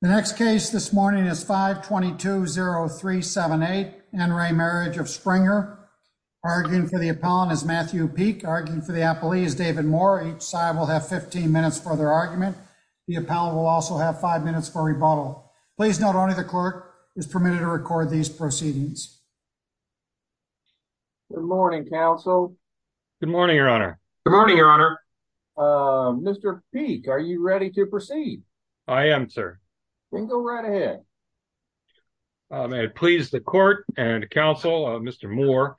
The next case this morning is 5-22-0378, Enray Marriage of Springer. Arguing for the appellant is Matthew Peek. Arguing for the appellee is David Moore. Each side will have 15 minutes for their argument. The appellant will also have 5 minutes for rebuttal. Please note only the clerk is permitted to record these proceedings. Good morning, counsel. Good morning, your honor. Good morning, your honor. Mr. Peek, are you ready to proceed? I am, sir. Then go right ahead. It pleases the court and counsel, Mr. Moore.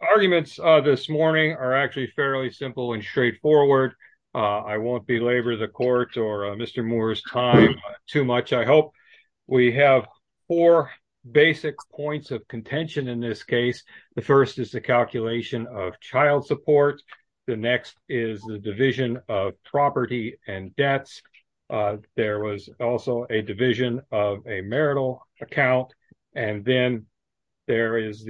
Arguments this morning are actually fairly simple and straightforward. I won't belabor the court or Mr. Moore's time too much, I hope. We have four basic points of contention in this case. The first is the calculation of child support. The next is the division of property and debts. There was also a division of a marital account. And then there is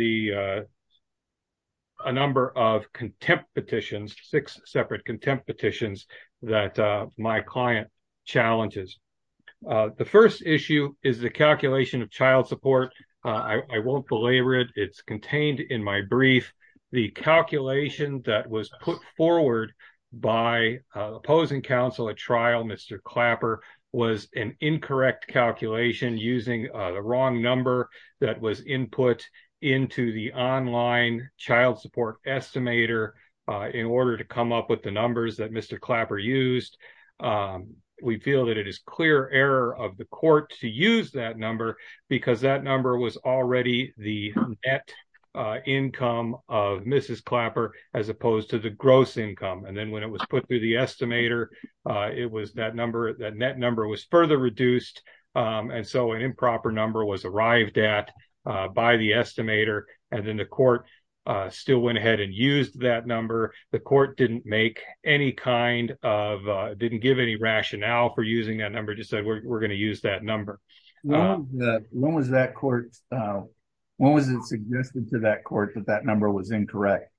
a number of contempt petitions, six separate contempt petitions, that my client challenges. The first issue is the calculation of child support. I won't belabor it. It's contained in my brief. The calculation that was put forward by opposing counsel at trial, Mr. Clapper, was an incorrect calculation using the wrong number that was input into the online child support estimator in order to come up with the numbers that Mr. Clapper used. We feel that it is clear error of the court to use that number because that was the income of Mrs. Clapper as opposed to the gross income. And then when it was put through the estimator, it was that net number was further reduced. And so an improper number was arrived at by the estimator. And then the court still went ahead and used that number. The court didn't make any kind of, didn't give any rationale for using that number, just said we're going to use that number. When was that court, when was it suggested to that court that that number was incorrect?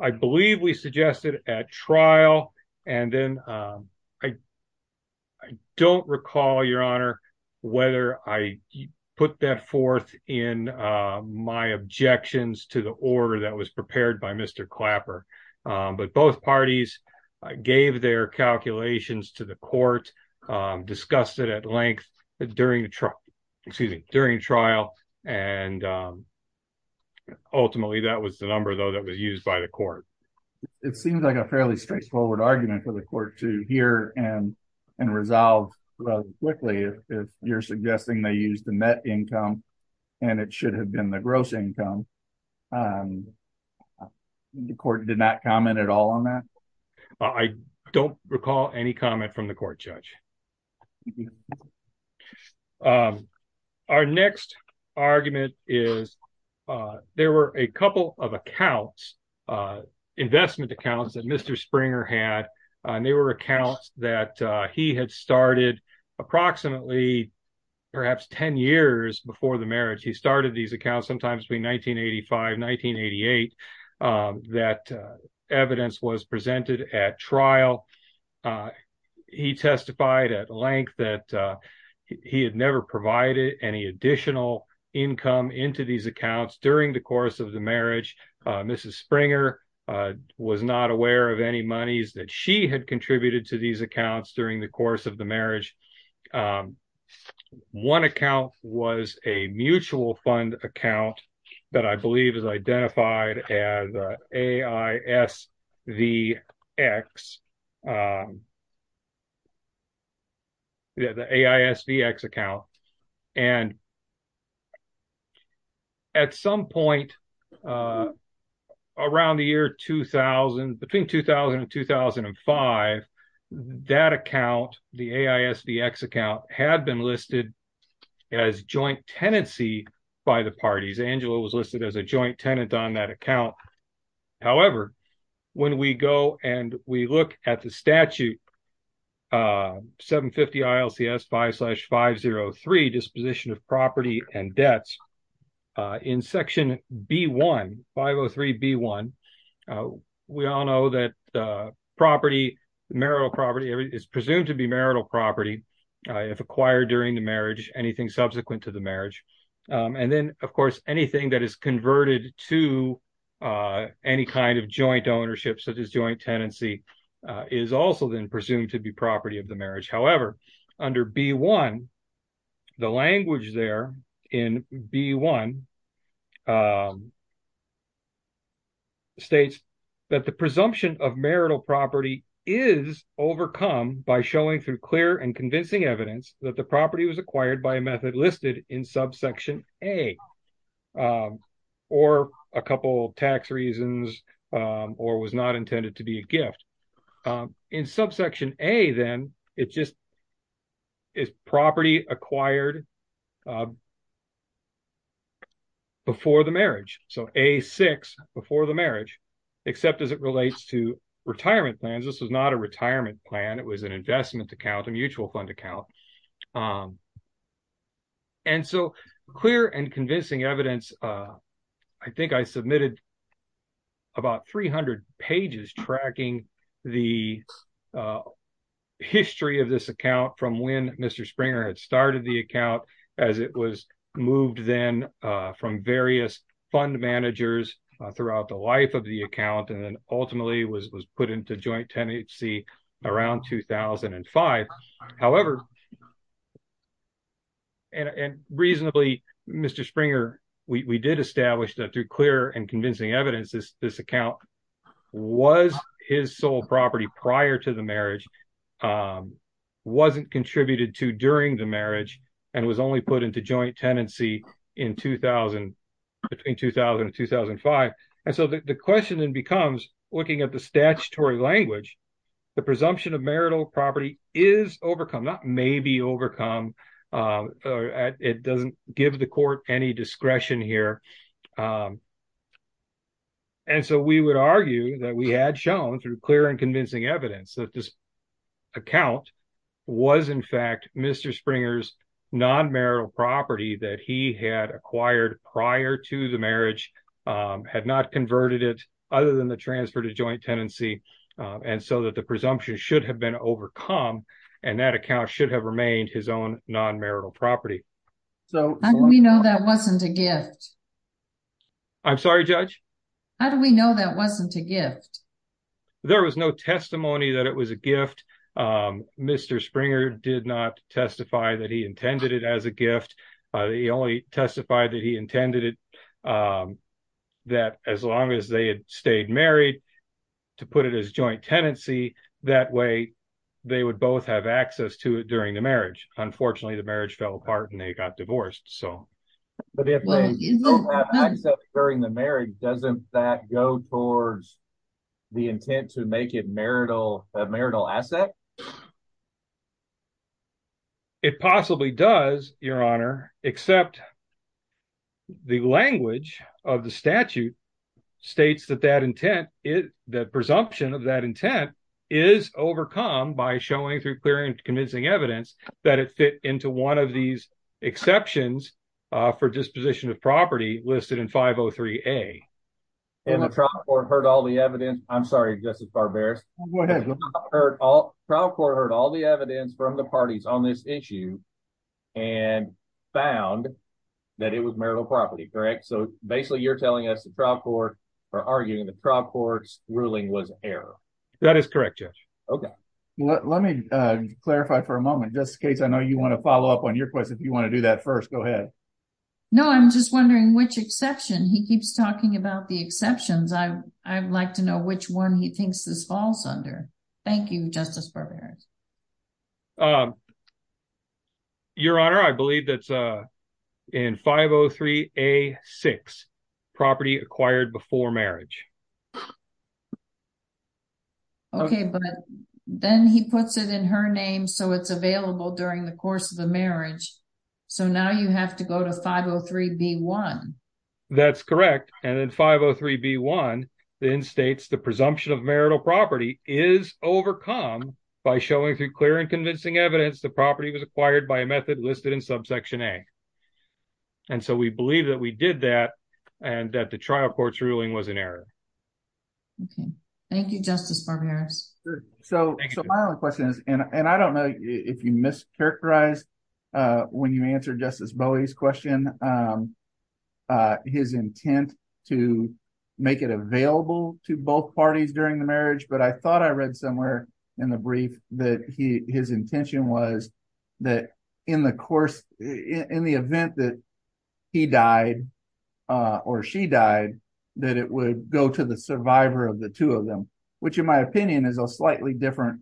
I believe we suggested at trial. And then I don't recall, Your Honor, whether I put that forth in my objections to the order that was prepared by Mr. Clapper. But both parties gave their calculations to the court, discussed it at length during the trial, excuse me, during trial. And ultimately that was the number though that was used by the court. It seems like a fairly straightforward argument for the court to hear and resolve quickly. If you're suggesting they use the net income and it should have been the gross income. The court did not comment at all on that. I don't recall any comment from the court judge. Our next argument is there were a couple of accounts, investment accounts that Mr. Springer had, and they were accounts that he had started approximately perhaps 10 years before the marriage. He started these accounts sometimes between 1985, 1988, that evidence was presented at trial. He testified at length that he had never provided any additional income into these accounts during the course of the marriage. Mrs. Springer was not aware of any monies that she had contributed to these accounts during the course of the marriage. One account was a mutual fund account that I believe is identified as AISVX. The AISVX account. And at some point around the year 2000, between 2000 and 2005, that account, the AISVX account had been listed as joint tenancy by the parties. Angela was listed as a joint tenant on that account. However, when we go and we look at the statute, 750 ILCS 5 slash 503 disposition of property and debts in section B1, 503 B1, we all know that property, marital property, everything is presumed to be marital property if acquired during the marriage, anything subsequent to the marriage. And then, of course, anything that is converted to any kind of joint ownership such as joint tenancy is also then presumed to be property of the marriage. However, under B1, the language there in B1, states that the presumption of marital property is overcome by showing through clear and convincing evidence that the property was acquired by a method listed in subsection A or a couple of tax reasons or was not intended to be a gift. In subsection A then, it just is property acquired before the marriage. So A6, before the marriage, except as it relates to retirement plans, this was not a retirement plan, it was an investment account, a mutual fund account. And so clear and convincing evidence, I think I submitted about 300 pages tracking the history of this account from when Mr. Springer had started the account as it was moved then from various fund managers throughout the life of the account and then ultimately was put into joint tenancy around 2005. However, and reasonably, Mr. Springer, we did establish that through clear and convincing evidence, this account was his sole property prior to the marriage, wasn't contributed to during the marriage, and was only put into joint tenancy between 2000 and 2005. And so the question then becomes, looking at the statutory language, the presumption of marital property is overcome, not maybe overcome. It doesn't give the court any discretion here. And so we would argue that we had shown through clear and convincing evidence that this account was, in fact, Mr. Springer's non-marital property that he had acquired prior to the marriage, had not converted it other than the transfer to joint tenancy, and so that the presumption should have been overcome and that account should have remained his own non-marital property. How do we know that wasn't a gift? I'm sorry, Judge? How do we know that wasn't a gift? There was no testimony that it was a gift. Mr. Springer did not testify that he intended it as a gift. He only testified that he intended it that as long as they had stayed married, to put it as joint tenancy, that way they would both have access to it during the marriage. Unfortunately, the marriage fell apart and they got divorced. But if they have access during the marriage, doesn't that go towards the intent to make it a marital asset? It possibly does, Your Honor, except the language of the statute states that that intent, the presumption of that intent is overcome by showing through clear and convincing evidence that it fit into one of these exceptions for disposition of property listed in 503A. And the trial court heard all the evidence. I'm sorry, Justice Barberis. Go ahead. The trial court heard all the evidence from the parties on this issue and found that it was marital property, correct? So basically you're telling us the trial court, or arguing the trial court's ruling was error. That is correct, Judge. Okay. Let me clarify for a moment. Just in case I know you want to follow up on your question, if you want to do that first, go ahead. No, I'm just wondering which exception. He keeps talking about the exceptions. I'd like to know which one he thinks this falls under. Thank you, Justice Barberis. Your Honor, I believe that's in 503A.6, property acquired before marriage. Okay, but then he puts it in her name, so it's available during the course of the marriage. So now you have to go to 503B1. That's correct. And then 503B1 then states the presumption of marital property is overcome by showing through clear and convincing evidence the property was acquired by a method listed in subsection A. Okay. Thank you, Justice Barberis. So my only question is, and I don't know if you mischaracterized when you answered Justice Bowie's question, his intent to make it available to both parties during the marriage, but I thought I read somewhere in the brief that his intention was that in the event that he died or she died, that it would go to the survivor of the two of them, which in my opinion is a slightly different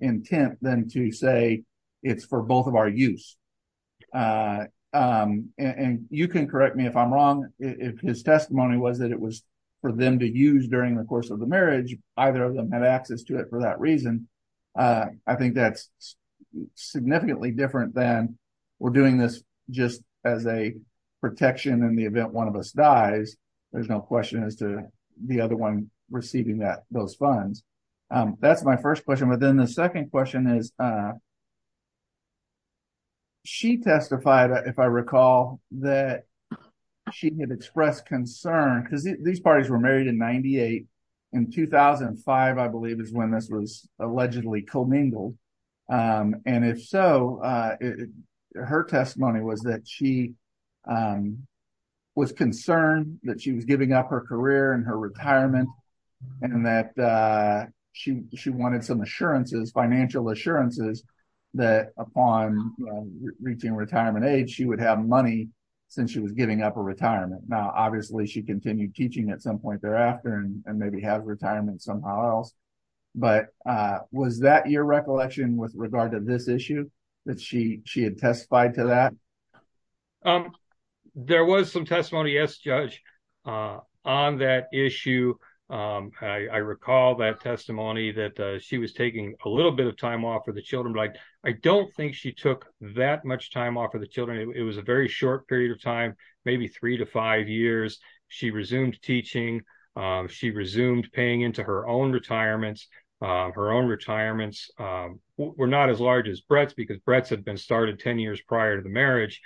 intent than to say it's for both of our use. And you can correct me if I'm wrong. His testimony was that it was for them to use during the course of the marriage. Either of them had access to it for that reason. I think that's significantly different than we're doing this just as a protection in the event one of us dies. There's no question as to the other one receiving those funds. That's my first question. But then the second question is she testified, if I recall, that she had expressed concern because these parties were married in 98. In 2005, I believe is when this was allegedly commingled. And if so, her testimony was that she was concerned that she was giving up her career and her retirement and that she, she wanted some assurances, financial assurances that upon reaching retirement age, she would have money since she was giving up a retirement. Now, obviously she continued teaching at some point thereafter and maybe have retirement somehow else. But was that your recollection with regard to this issue that she, she had testified to that? There was some testimony. Yes, judge on that issue. I recall that testimony that she was taking a little bit of time off for the children. Like, I don't think she took that much time off for the children. It was a very short period of time, maybe three to five years. She resumed teaching. She resumed paying into her own retirements. Her own retirements. We're not as large as Brett's because Brett's had been started 10 years prior to the marriage.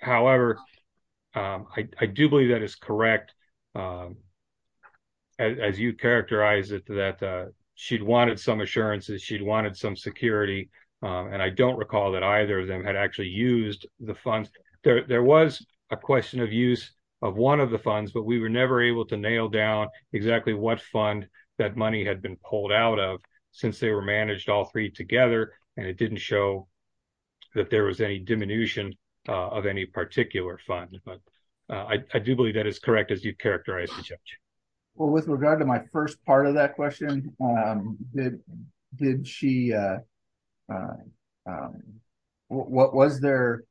However, I do believe that is correct. As you characterize it, that she'd wanted some assurances she'd wanted some security. And I don't recall that either of them had actually used the funds there. There was a question of use of one of the funds, but we were never able to nail down exactly what fund that money had been pulled out of since they were managed all three together. And it didn't show. That there was any diminution of any particular fund, but I do believe that is correct. As you've characterized. Well, with regard to my first part of that question, Did she. What was there?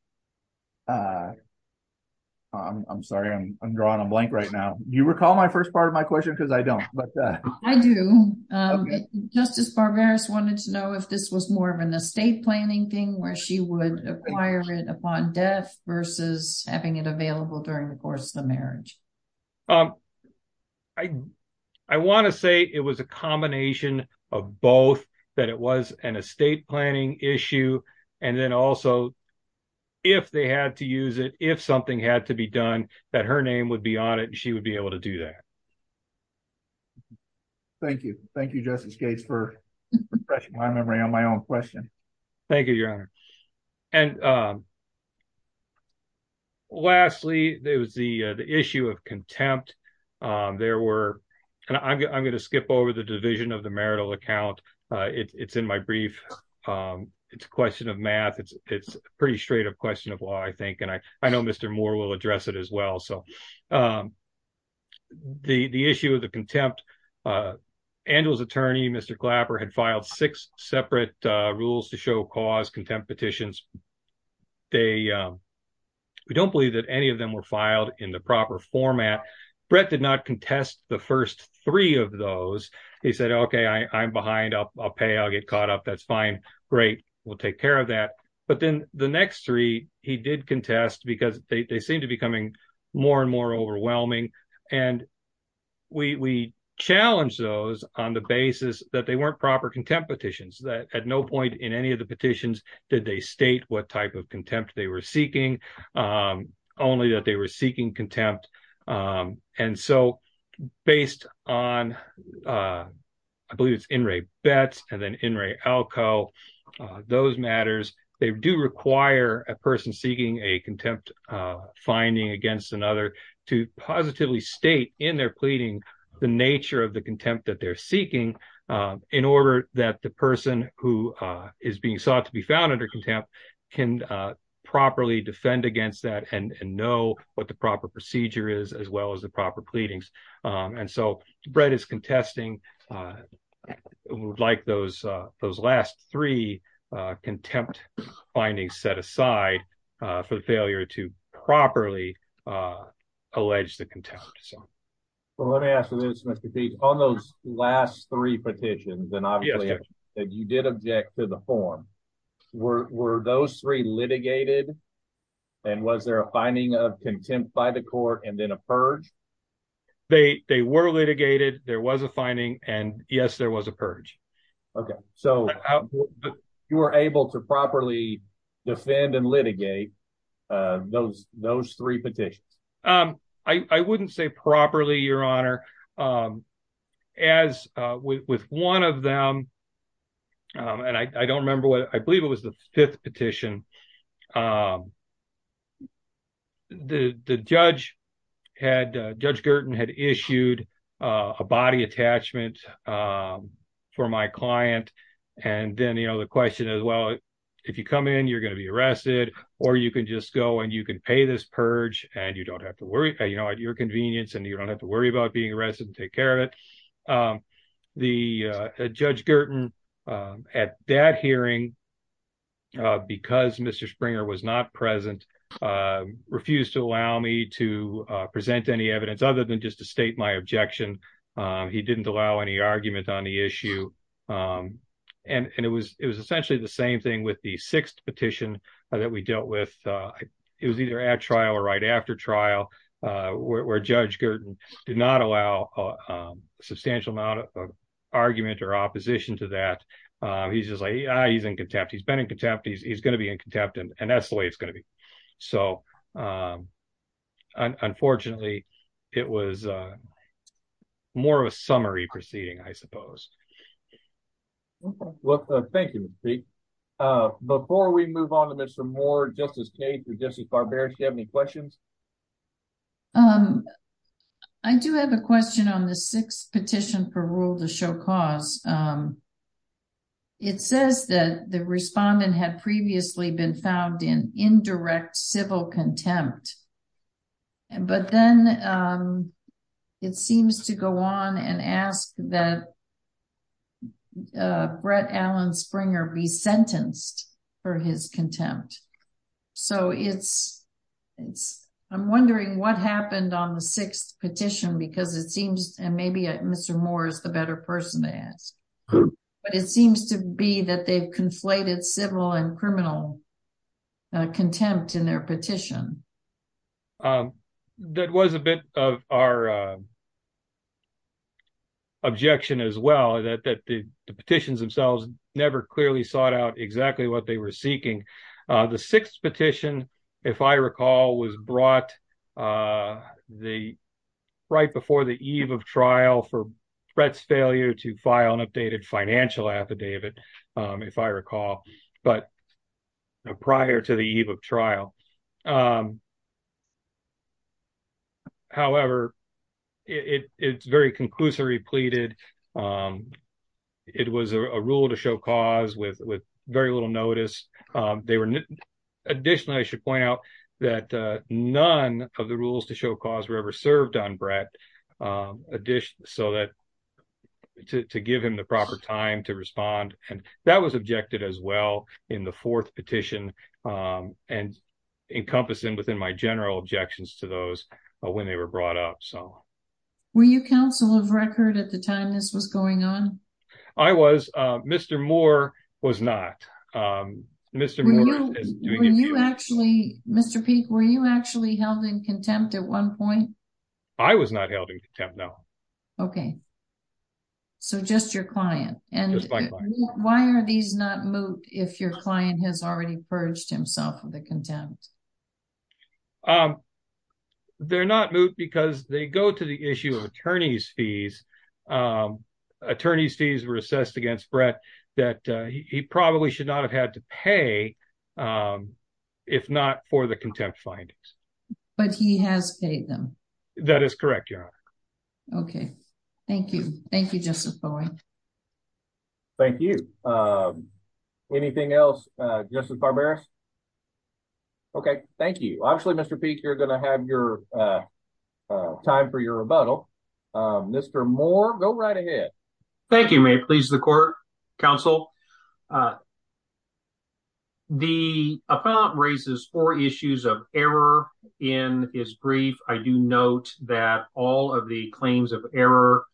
I'm sorry. I'm drawing a blank right now. Do you recall my first part of my question? Because I don't, but. I do. Justice Barbera's wanted to know if this was more of an estate planning thing where she would acquire it upon death versus having it available during the course of the marriage. I want to say it was a combination of both, that it was an estate planning issue. And then also. If they had to use it, if something had to be done, that her name would be on it and she would be able to do that. Thank you. Thank you. Justice Gates for. My memory on my own question. Thank you, Your Honor. And. Thank you. Lastly, there was the, the issue of contempt. There were. And I'm going to skip over the division of the marital account. It's in my brief. It's a question of math. It's, it's pretty straight up question of why I think, and I, I know Mr. Moore will address it as well. So. The issue of the contempt. The issue of the contempt. Was that Angela's attorney, Mr. Clapper had filed six separate. Rules to show cause contempt petitions. They. We don't believe that any of them were filed in the proper format. Brett did not contest the first three of those. He said, okay, I I'm behind up. I'll pay. I'll get caught up. That's fine. Great. We'll take care of that. But then the next three, he did contest because they, they seem to be coming more and more overwhelming. And. We, we challenged those on the basis that they weren't proper contempt petitions that at no point in any of the petitions, did they state what type of contempt they were seeking? Only that they were seeking contempt. And so. Based on. I believe it's in Ray bets and then in Ray Alco. I believe it's in Ray Betts and then in Ray Alco. Those matters. They do require a person seeking a contempt. Finding against another. To positively state in their pleading, the nature of the contempt that they're seeking. In order that the person who. Is being sought to be found under contempt. And the person who is being sought to be found under contempt. Can properly defend against that and, and know what the proper procedure is as well as the proper pleadings. And so bread is contesting. Like those, those last three. Contempt. Finding set aside. For the failure to properly. Alleged the contempt. Well, let me ask you this. Mr. Pete on those last three petitions. And obviously. You did object to the form. Were those three litigated. And was there a finding of contempt by the court and then a purge? They, they were litigated. There was a finding and yes, there was a purge. Okay. So. You were able to properly. Defend and litigate. Those, those three petitions. I wouldn't say properly your honor. As with one of them. And I don't remember what I believe it was the fifth petition. The judge. Had judge Gerton had issued a body attachment. For my client. And then, you know, the question is, well. You know, if you come in and you're going to be arrested or you can just go and you can pay this purge and you don't have to worry, you know, at your convenience and you don't have to worry about being arrested and take care of it. The judge Gerton. At that hearing. Because Mr. Springer was not present. Refused to allow me to present any evidence other than just to state my objection. He didn't allow any argument on the issue. And it was, it was essentially the same thing with the sixth petition that we dealt with. It was either at trial or right after trial. Where judge Gerton did not allow. Substantial amount of. Argument or opposition to that. He's just like, ah, he's in contempt. He's been in contempt. He's going to be in contempt and that's the way it's going to be. So. Unfortunately, it was. More of a summary proceeding, I suppose. Well, thank you. Before we move on to Mr. Moore, just as Kate, you're just as barbaric. You have any questions. I do have a question on the sixth petition for rule to show cause. It says that the respondent had previously been found in indirect civil contempt. And, but then. It seems to go on and ask that. Brett Allen Springer be sentenced. For his contempt. So it's. It's I'm wondering what happened on the sixth petition because it seems and maybe Mr. Moore is the better person to ask. But it seems to be that they've conflated civil and criminal. Contempt in their petition. That was a bit of our. Objection as well, that, that the petitions themselves. Never clearly sought out exactly what they were seeking. The sixth petition. If I recall was brought. The. Right before the eve of trial for. Brett's failure to file an updated financial affidavit. If I recall, but. Prior to the eve of trial. However. It it's very conclusory pleaded. It was a rule to show cause with, with very little notice. They were. Additionally, I should point out. That none of the rules to show cause were ever served on Brett. So, so that. To give him the proper time to respond. And that was objected as well in the fourth petition. And encompassing within my general objections to those. When they were brought up. So. Were you counsel of record at the time this was going on? I was Mr. Moore was not. Mr. Mr. Moore. Mr. Peek. Were you actually held in contempt at one point? I was not held in contempt. No. Okay. So just your client. Why are these not moot? If your client has already purged himself with the contempt. They're not moot because they go to the issue of attorneys fees. In this case, the attorneys fees were assessed against Brett. That he probably should not have had to pay. If not for the contempt findings. But he has paid them. That is correct. Your. Okay. Thank you. Thank you just for. Thank you. Anything else? Justin. Okay, thank you. Actually Mr. Peek, you're gonna have your. Time for your rebuttal. Mr. Moore, go right ahead. Thank you. May it please the court. Counsel. The appellate raises four issues of error. In his brief, I do note that all of the claims of error.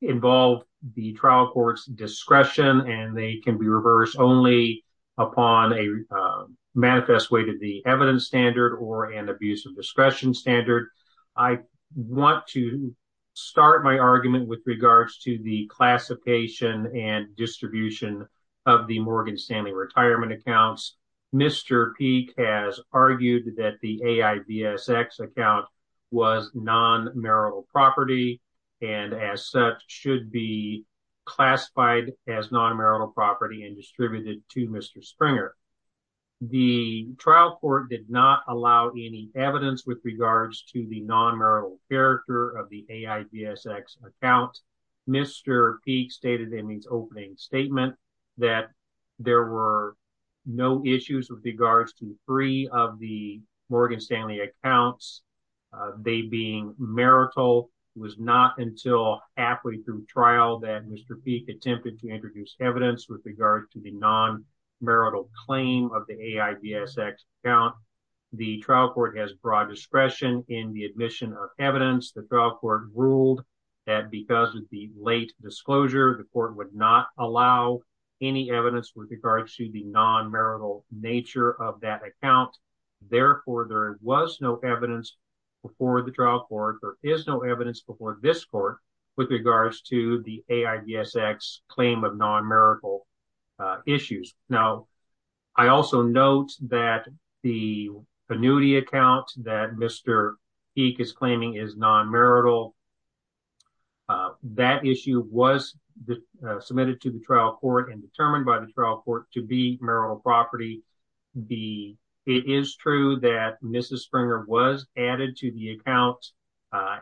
Involved the trial court's discretion and they can be reversed only. Upon a manifest way to the evidence standard or an abuse of discretion standard. I want to. Start my argument with regards to the classification and distribution. Of the Morgan Stanley retirement accounts. Mr. Peek has argued that the. Account. Was non marital property. And as such should be. Classified as non-marital property and distributed to Mr. Springer. The trial court did not allow any evidence with regards to the non-marital. Character of the AIVSX account. Mr. Peek stated in his opening statement. That there were. No issues with regards to three of the Morgan Stanley accounts. They being marital. The trial court has broad discretion in the admission of evidence. The trial court ruled. That because of the late disclosure, the court would not allow. Any evidence with regards to the non-marital nature of that account. Therefore, there was no evidence. Before the trial court. There is no evidence before this court. With regards to the AIVSX claim of non-marital. Issues. Now. I also note that. The annuity account that Mr. Peek is claiming is non-marital. That issue was. Submitted to the trial court and determined by the trial court to be marital property. It is true that Mrs. Springer was added to the account.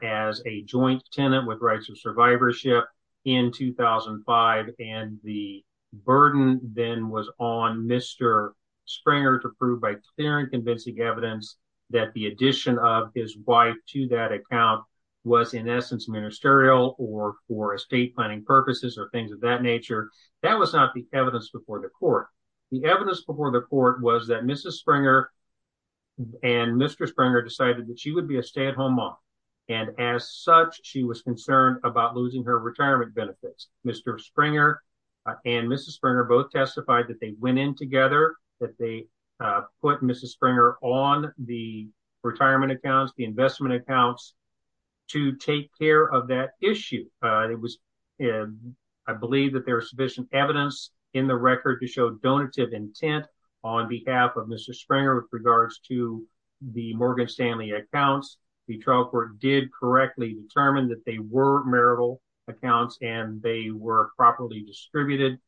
As a joint tenant with rights of survivorship. In 2005. And the burden then was on Mr. Springer to prove by clear and convincing evidence. That the addition of his wife to that account. Was in essence ministerial or for estate planning purposes or things of that nature. That was not the evidence before the court. The evidence before the court was that Mrs. Springer. And Mr. Springer decided that she would be a stay-at-home mom. And as such, she was concerned about losing her retirement benefits. Mr. Springer. And Mrs. Springer both testified that they went in together. That they put Mrs. Springer on the retirement accounts, the investment accounts. To take care of that issue. It was. I believe that there was sufficient evidence in the record to show donative intent. On behalf of Mr. Springer with regards to the Morgan Stanley accounts. The trial court did correctly determine that they were marital accounts and they were properly distributed.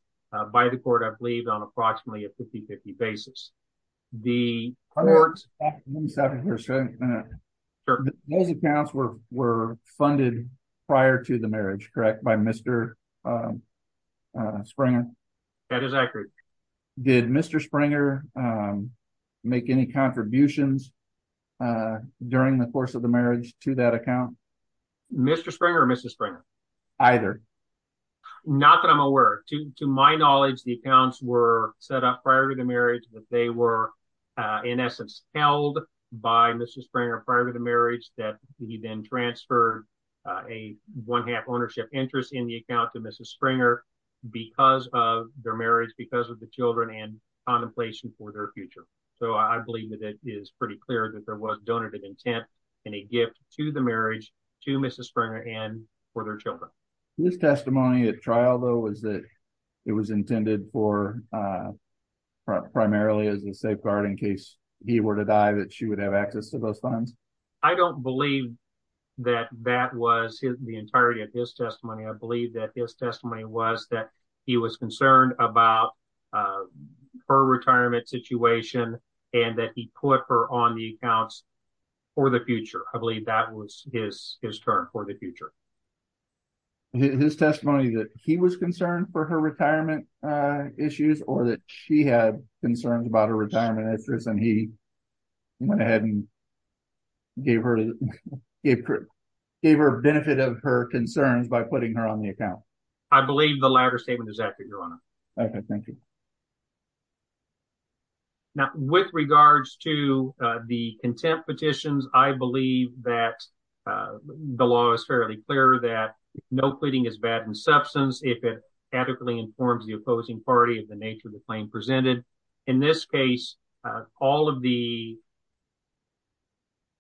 By the court. I believe on approximately a 50, 50 basis. The court. Mr. Springer. Yes. Those accounts were, were funded prior to the marriage, correct? By Mr. Springer. That is accurate. Did Mr. Springer. Make any contributions. During the course of the marriage to that account. Mr. Springer, Mrs. Springer. I don't believe that Mr. Springer made any contributions. Either. Not that I'm aware. To my knowledge, the accounts were set up prior to the marriage. They were. In essence held by Mrs. Springer prior to the marriage that he then transferred. A one half ownership interest in the account to Mrs. Springer. Because of their marriage, because of the children and contemplation for their future. So I believe that it is pretty clear that there was donated intent. And a gift to the marriage to Mrs. Springer and for their children. This testimony at trial though, is that. It was intended for. Primarily as a safeguard in case he were to die that she would have access to those funds. I don't believe that that was the entirety of his testimony. I believe that his testimony was that he was concerned about. Her retirement situation. And that he put her on the accounts. For the future. I believe that was his. His term for the future. His testimony that he was concerned for her retirement. Issues or that she had concerns about her retirement. And he. Went ahead and. Gave her. It. Gave her a benefit of her concerns by putting her on the account. I believe the latter statement is accurate. Okay. Thank you. Thank you. Thank you. Now with regards to the contempt petitions, I believe that. The law is fairly clear that no pleading is bad in substance. If it adequately informs the opposing party of the nature of the claim presented. In this case, all of the.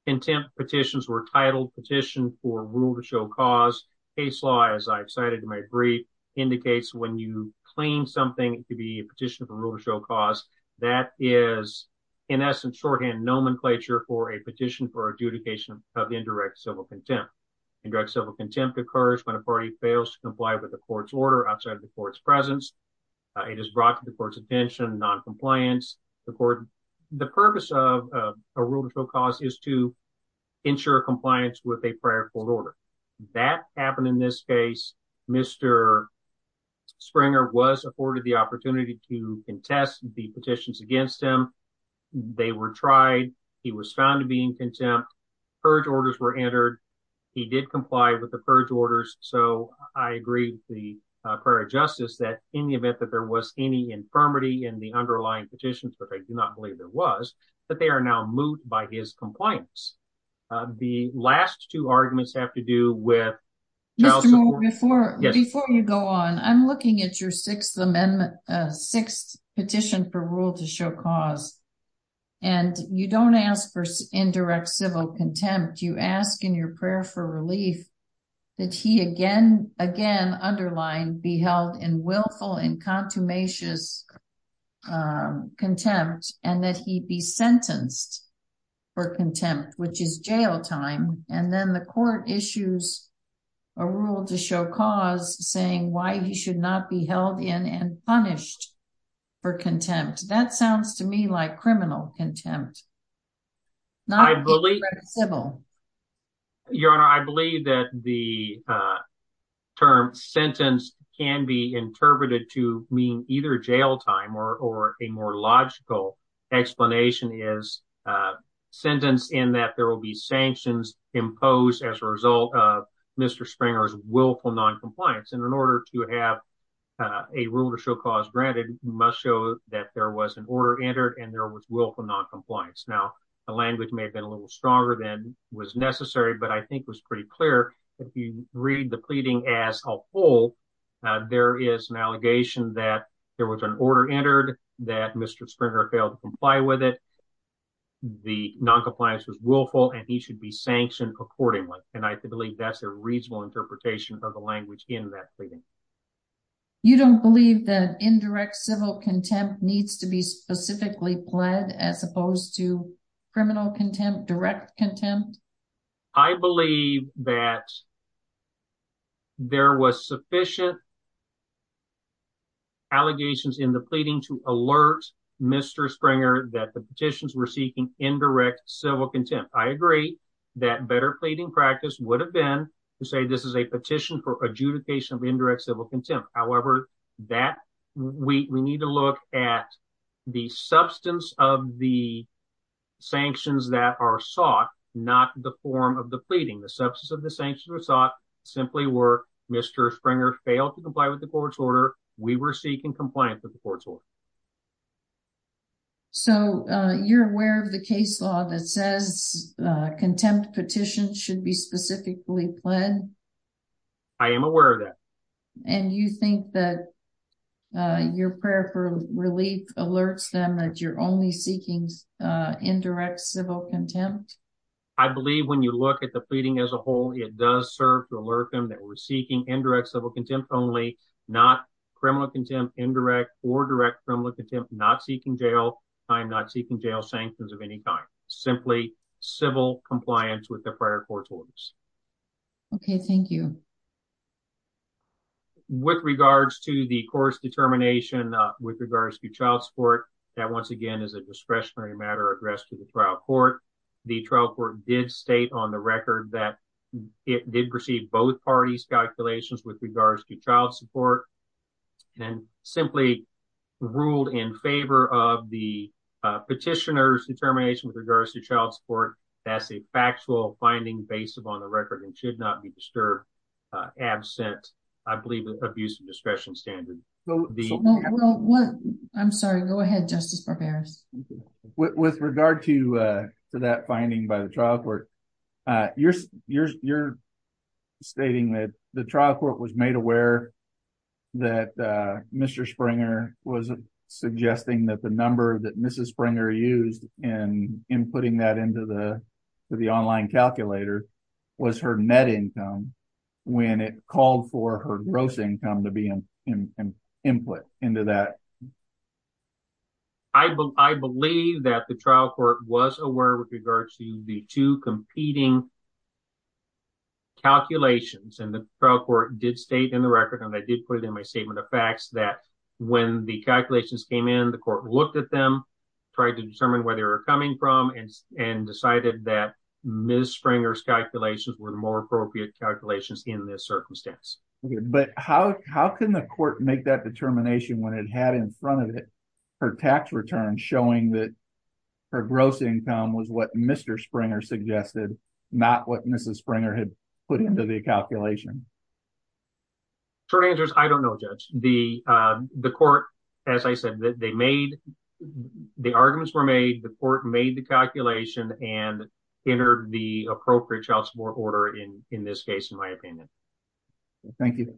Contempt petitions were titled petition for rule to show cause. Case law, as I've cited in my brief. Indicates when you claim something to be a petition of a rule to show cause that is. In essence, shorthand nomenclature for a petition for adjudication of indirect civil contempt. And direct civil contempt occurs when a party fails to comply with the court's order outside of the court's presence. It is brought to the court's attention, noncompliance. The purpose of a rule to show cause is to ensure compliance with a prior court order. That happened in this case. Mr. Springer was afforded the opportunity to contest the petitions against him. They were tried. He was found to be in contempt. Purge orders were entered. He did comply with the purge orders. So I agree with the prayer of justice that in the event that there was any infirmity in the underlying petitions, which I do not believe there was that they are now moved by his compliance. The last two arguments have to do with. Before you go on, I'm looking at your sixth amendment. Sixth petition for rule to show cause. And you don't ask for indirect civil contempt. You ask in your prayer for relief. That he again, again, Underline be held in willful and contumacious. Contempt and that he be sentenced. For contempt, which is jail time. And then the court issues. A rule to show cause saying why he should not be held in and punished. For contempt. That sounds to me like criminal contempt. I believe. I believe that the. Term sentence can be interpreted to mean either jail time or, or a more logical explanation is. Sentence in that there will be sanctions imposed as a result of Mr. Springer's willful noncompliance. And in order to have. A rule to show cause granted must show that there was an order entered and there was willful noncompliance. Now. The language may have been a little stronger than was necessary, but I think it was pretty clear. If you read the pleading as a whole. There is an allegation that there was an order entered that Mr. Springer failed to comply with it. The noncompliance was willful and he should be sanctioned accordingly. And I believe that's a reasonable interpretation of the language in that pleading. You don't believe that indirect civil contempt needs to be specifically pled as opposed to criminal contempt, direct contempt. I believe that. There was sufficient. Allegations in the pleading to alert Mr. Springer that the petitions were seeking indirect civil contempt. And I agree that better pleading practice would have been to say, this is a petition for adjudication of indirect civil contempt. However, that. We need to look at the substance of the. Sanctions that are sought, not the form of the pleading, the substance of the sanctions were sought simply were Mr. Springer failed to comply with the court's order. We were seeking compliance with the court's order. So you're aware of the case law that says. Contempt petition should be specifically planned. I am aware of that. And you think that. Your prayer for relief alerts them that you're only seeking. Indirect civil contempt. I believe when you look at the pleading as a whole, it does serve to alert them that we're seeking indirect civil contempt only not criminal contempt, indirect or direct criminal contempt, not seeking jail. I'm not seeking jail sanctions of any kind, simply civil compliance with the prior court's orders. Okay. Thank you. With regards to the course determination. With regards to child support. That once again is a discretionary matter addressed to the trial court. The trial court did state on the record that. It did receive both parties calculations with regards to child support. And simply. Ruled in favor of the. Petitioners determination with regards to child support. That's a factual finding based upon the record and should not be disturbed. Absent. I believe that abuse of discretion standard. I'm sorry. Go ahead. Justice. With regard to. With regard to. To that finding by the trial court. You're you're you're. Stating that the trial court was made aware. That Mr. Springer was. Suggesting that the number that Mrs. Springer used. And in putting that into the. The online calculator. Was her net income. When it called for her gross income to be in. Input into that. I believe that the trial court was aware with regard to the two competing. Calculations and the trial court did state in the record. And I did put it in my statement of facts that. When the calculations came in, the court looked at them. And decided that. Ms. Springer's calculations were more appropriate calculations in this circumstance. But how, how can the court make that determination when it had in front of it? Her tax return showing that. Her gross income was what Mr. Springer suggested. Not what Mrs. Springer had put into the calculation. I don't know, judge the, the court. I don't know how the court made that determination. But as I said, they made. The arguments were made. The court made the calculation and entered the appropriate child support order in, in this case, in my opinion. Thank you.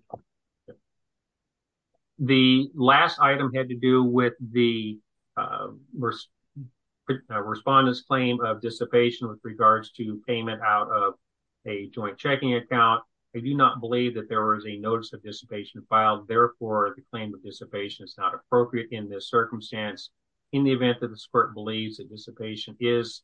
The last item had to do with the. The. Respondents claim of dissipation with regards to payment out of. A joint checking account. I do not believe that there was a notice of dissipation filed. Therefore the claim of dissipation is not appropriate in this circumstance. In the event that the squirt believes that dissipation is.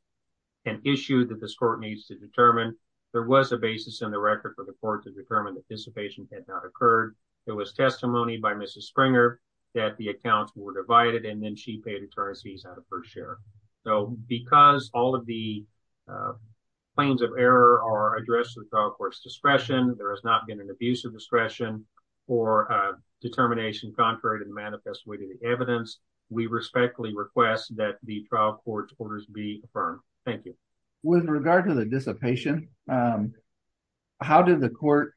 An issue that this court needs to determine. There was a basis in the record for the court to determine that dissipation had not occurred. There was testimony by Mrs. Springer. That the accounts were divided. And then she paid attorneys fees out of her share. So, because all of the. Plains of error are addressed. Discretion. There has not been an abuse of discretion. Or a determination. Contrary to the manifest way to the evidence. We respectfully request that the trial court. And. The. Trial court. Be affirmed. Thank you. With regard to the dissipation. How did the court.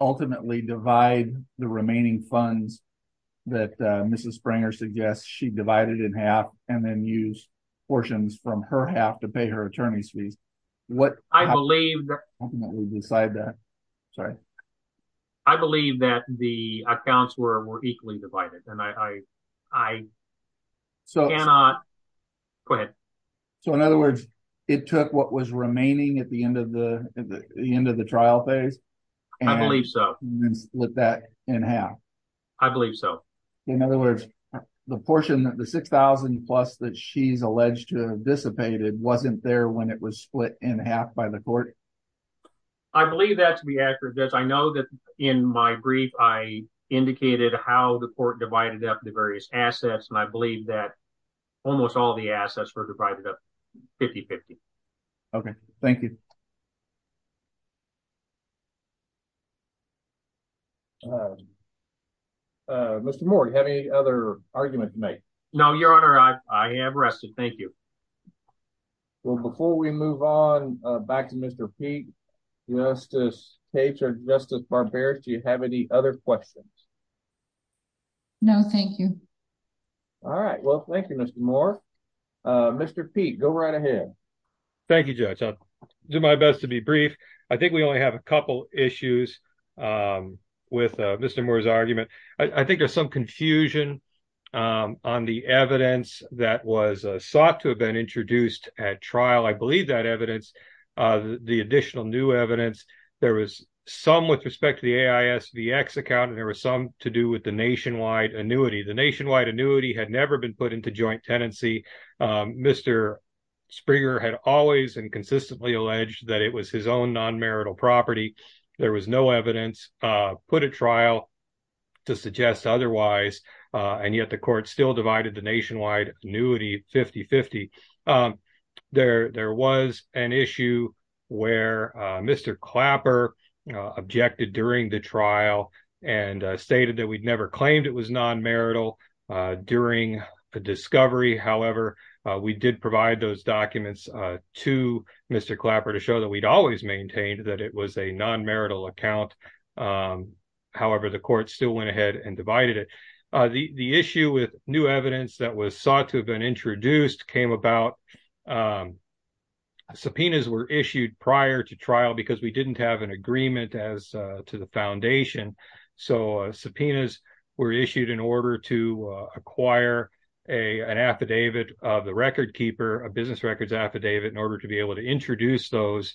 Ultimately divide the remaining funds. That Mrs. Springer suggests she divided in half and then use portions from her half to pay her attorney's fees. What I believe. We'll decide that. Sorry. I believe that the accounts were, were equally divided. And I. I. So. Go ahead. So in other words. It took what was remaining at the end of the. The end of the trial phase. I believe so. With that in half. I believe so. In other words. The portion that the 6,000 plus that she's alleged to have dissipated wasn't there when it was split in half by the court. I believe that to be accurate. I know that in my brief, I. Indicated how the court divided up the various assets. And I believe that. Almost all the assets were divided up. 50 50. Okay. Thank you. Mr. Moore. You have any other argument to make? No, your honor. I am arrested. Thank you. Well, before we move on. Back to Mr. Pete. Justice. Patriot justice. Barbaric. Do you have any other questions? No. Thank you. All right. Well, thank you, Mr. Moore. Mr. Pete. Go right ahead. Thank you, judge. I'll do my best to be brief. I think we only have a couple issues. With Mr. Moore's argument. I think there's some confusion. On the evidence that was sought to have been introduced at trial. I believe that evidence. The additional new evidence. There was some with respect to the account, and there was some to do with the nationwide annuity. The nationwide annuity had never been put into joint tenancy. Mr. Springer had always and consistently alleged that it was his own non-marital property. There was no evidence. Put a trial. To suggest otherwise. And yet the court still divided the nationwide annuity 50 50. There, there was an issue. Where Mr. Clapper. Objected during the trial. And stated that we'd never claimed it was non-marital. During the discovery. However, we did provide those documents. To Mr. Clapper to show that we'd always maintained that it was a non-marital account. However, the court still went ahead and divided it. The issue with new evidence that was sought to have been introduced came about. Subpoenas were issued prior to trial because we didn't have an agreement as to the foundation. And so subpoenas were issued in order to acquire a, an affidavit of the record keeper, a business records affidavit in order to be able to introduce those.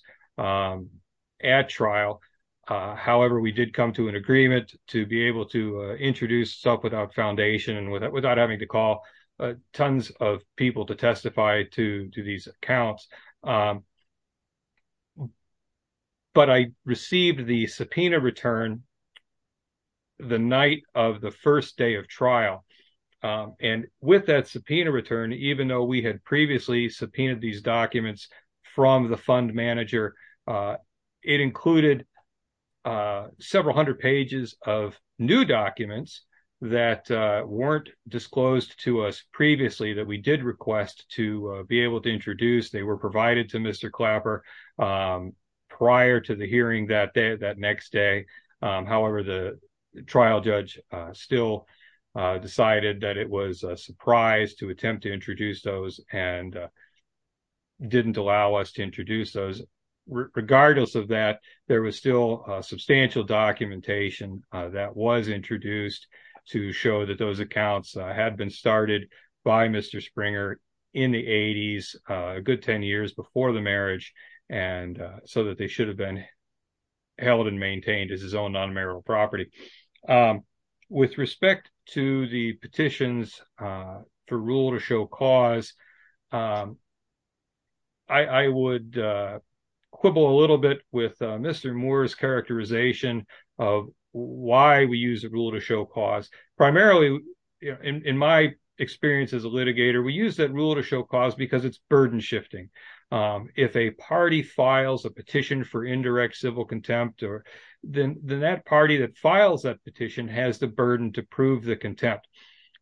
At trial. However, we did come to an agreement to be able to introduce stuff without foundation and without, without having to call tons of people to testify to these accounts. But I received the subpoena return. The night of the first day of trial. And with that subpoena return, even though we had previously subpoenaed these documents from the fund manager. It included. Several hundred pages of new documents that weren't disclosed to us previously that we did request to be able to introduce. They were provided to Mr. Clapper. Prior to the hearing that day, that next day. However, the trial judge still. Decided that it was a surprise to attempt to introduce those and. Didn't allow us to introduce those. Regardless of that, there was still a substantial documentation. That was introduced to show that those accounts had been started by Mr. Springer. In the eighties, a good 10 years before the marriage. And so that they should have been. They should have been. They should have been held. And maintained as his own non-marital property. With respect to the petitions. For rule to show cause. I would. Quibble a little bit with Mr. Moore's characterization. Why we use a rule to show cause primarily. In my experience as a litigator, we use that rule to show cause because it's burden shifting. If a party files a petition for indirect civil contempt or. Then that party that files that petition has the burden to prove the contempt.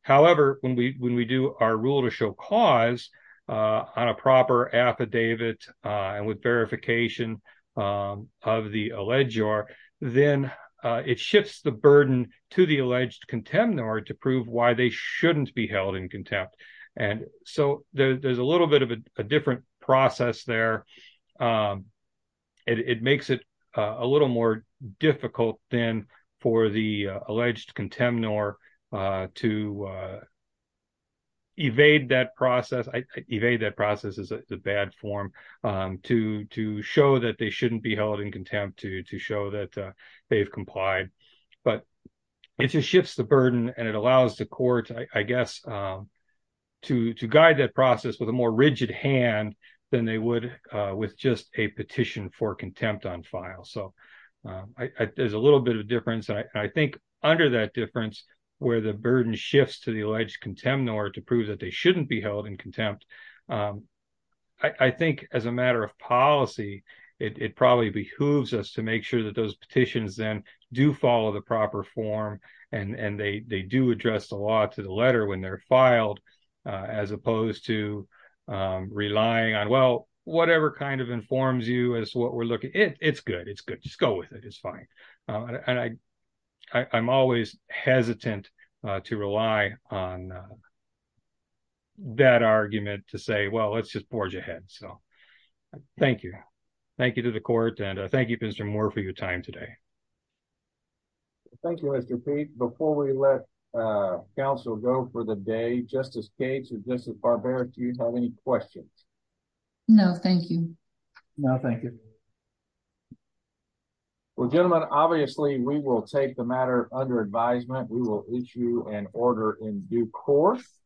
However, when we, when we do our rule to show cause. On a proper affidavit. And with verification. Of the alleged or then it shifts the burden to the alleged contempt nor to prove why they shouldn't be held in contempt. And so there's a little bit of a different process there. It makes it a little more difficult than for the alleged contempt nor to. Evade that process. I evade that process is the bad form. And so I think there's a little bit of a difference. Between the alleged contempt nor. To, to show that they shouldn't be held in contempt to, to show that they've complied. But. It just shifts the burden and it allows the court, I guess. To, to guide that process with a more rigid hand than they would with just a petition for contempt on file. So. There's a little bit of difference. I think under that difference. Where the burden shifts to the alleged contempt nor to prove that they shouldn't be held in contempt. I think as a matter of policy, it probably behooves us to make sure that those petitions then do follow the proper form. And they, they do address the law to the letter when they're filed. As opposed to relying on, well, whatever kind of informs you as to what we're looking at. It's good. Just go with it. It's fine. And I, I I'm always hesitant to rely on. That argument to say, well, let's just forge ahead. So. Thank you. Thank you to the court. And I thank you, Mr. Moore for your time today. Thank you. Mr. Pete, before we let council go for the day, justice Gates is just as barbaric. Do you have any questions? No, thank you. No, thank you. Well, gentlemen, obviously we will take the matter under advisement. We will issue an order in due course.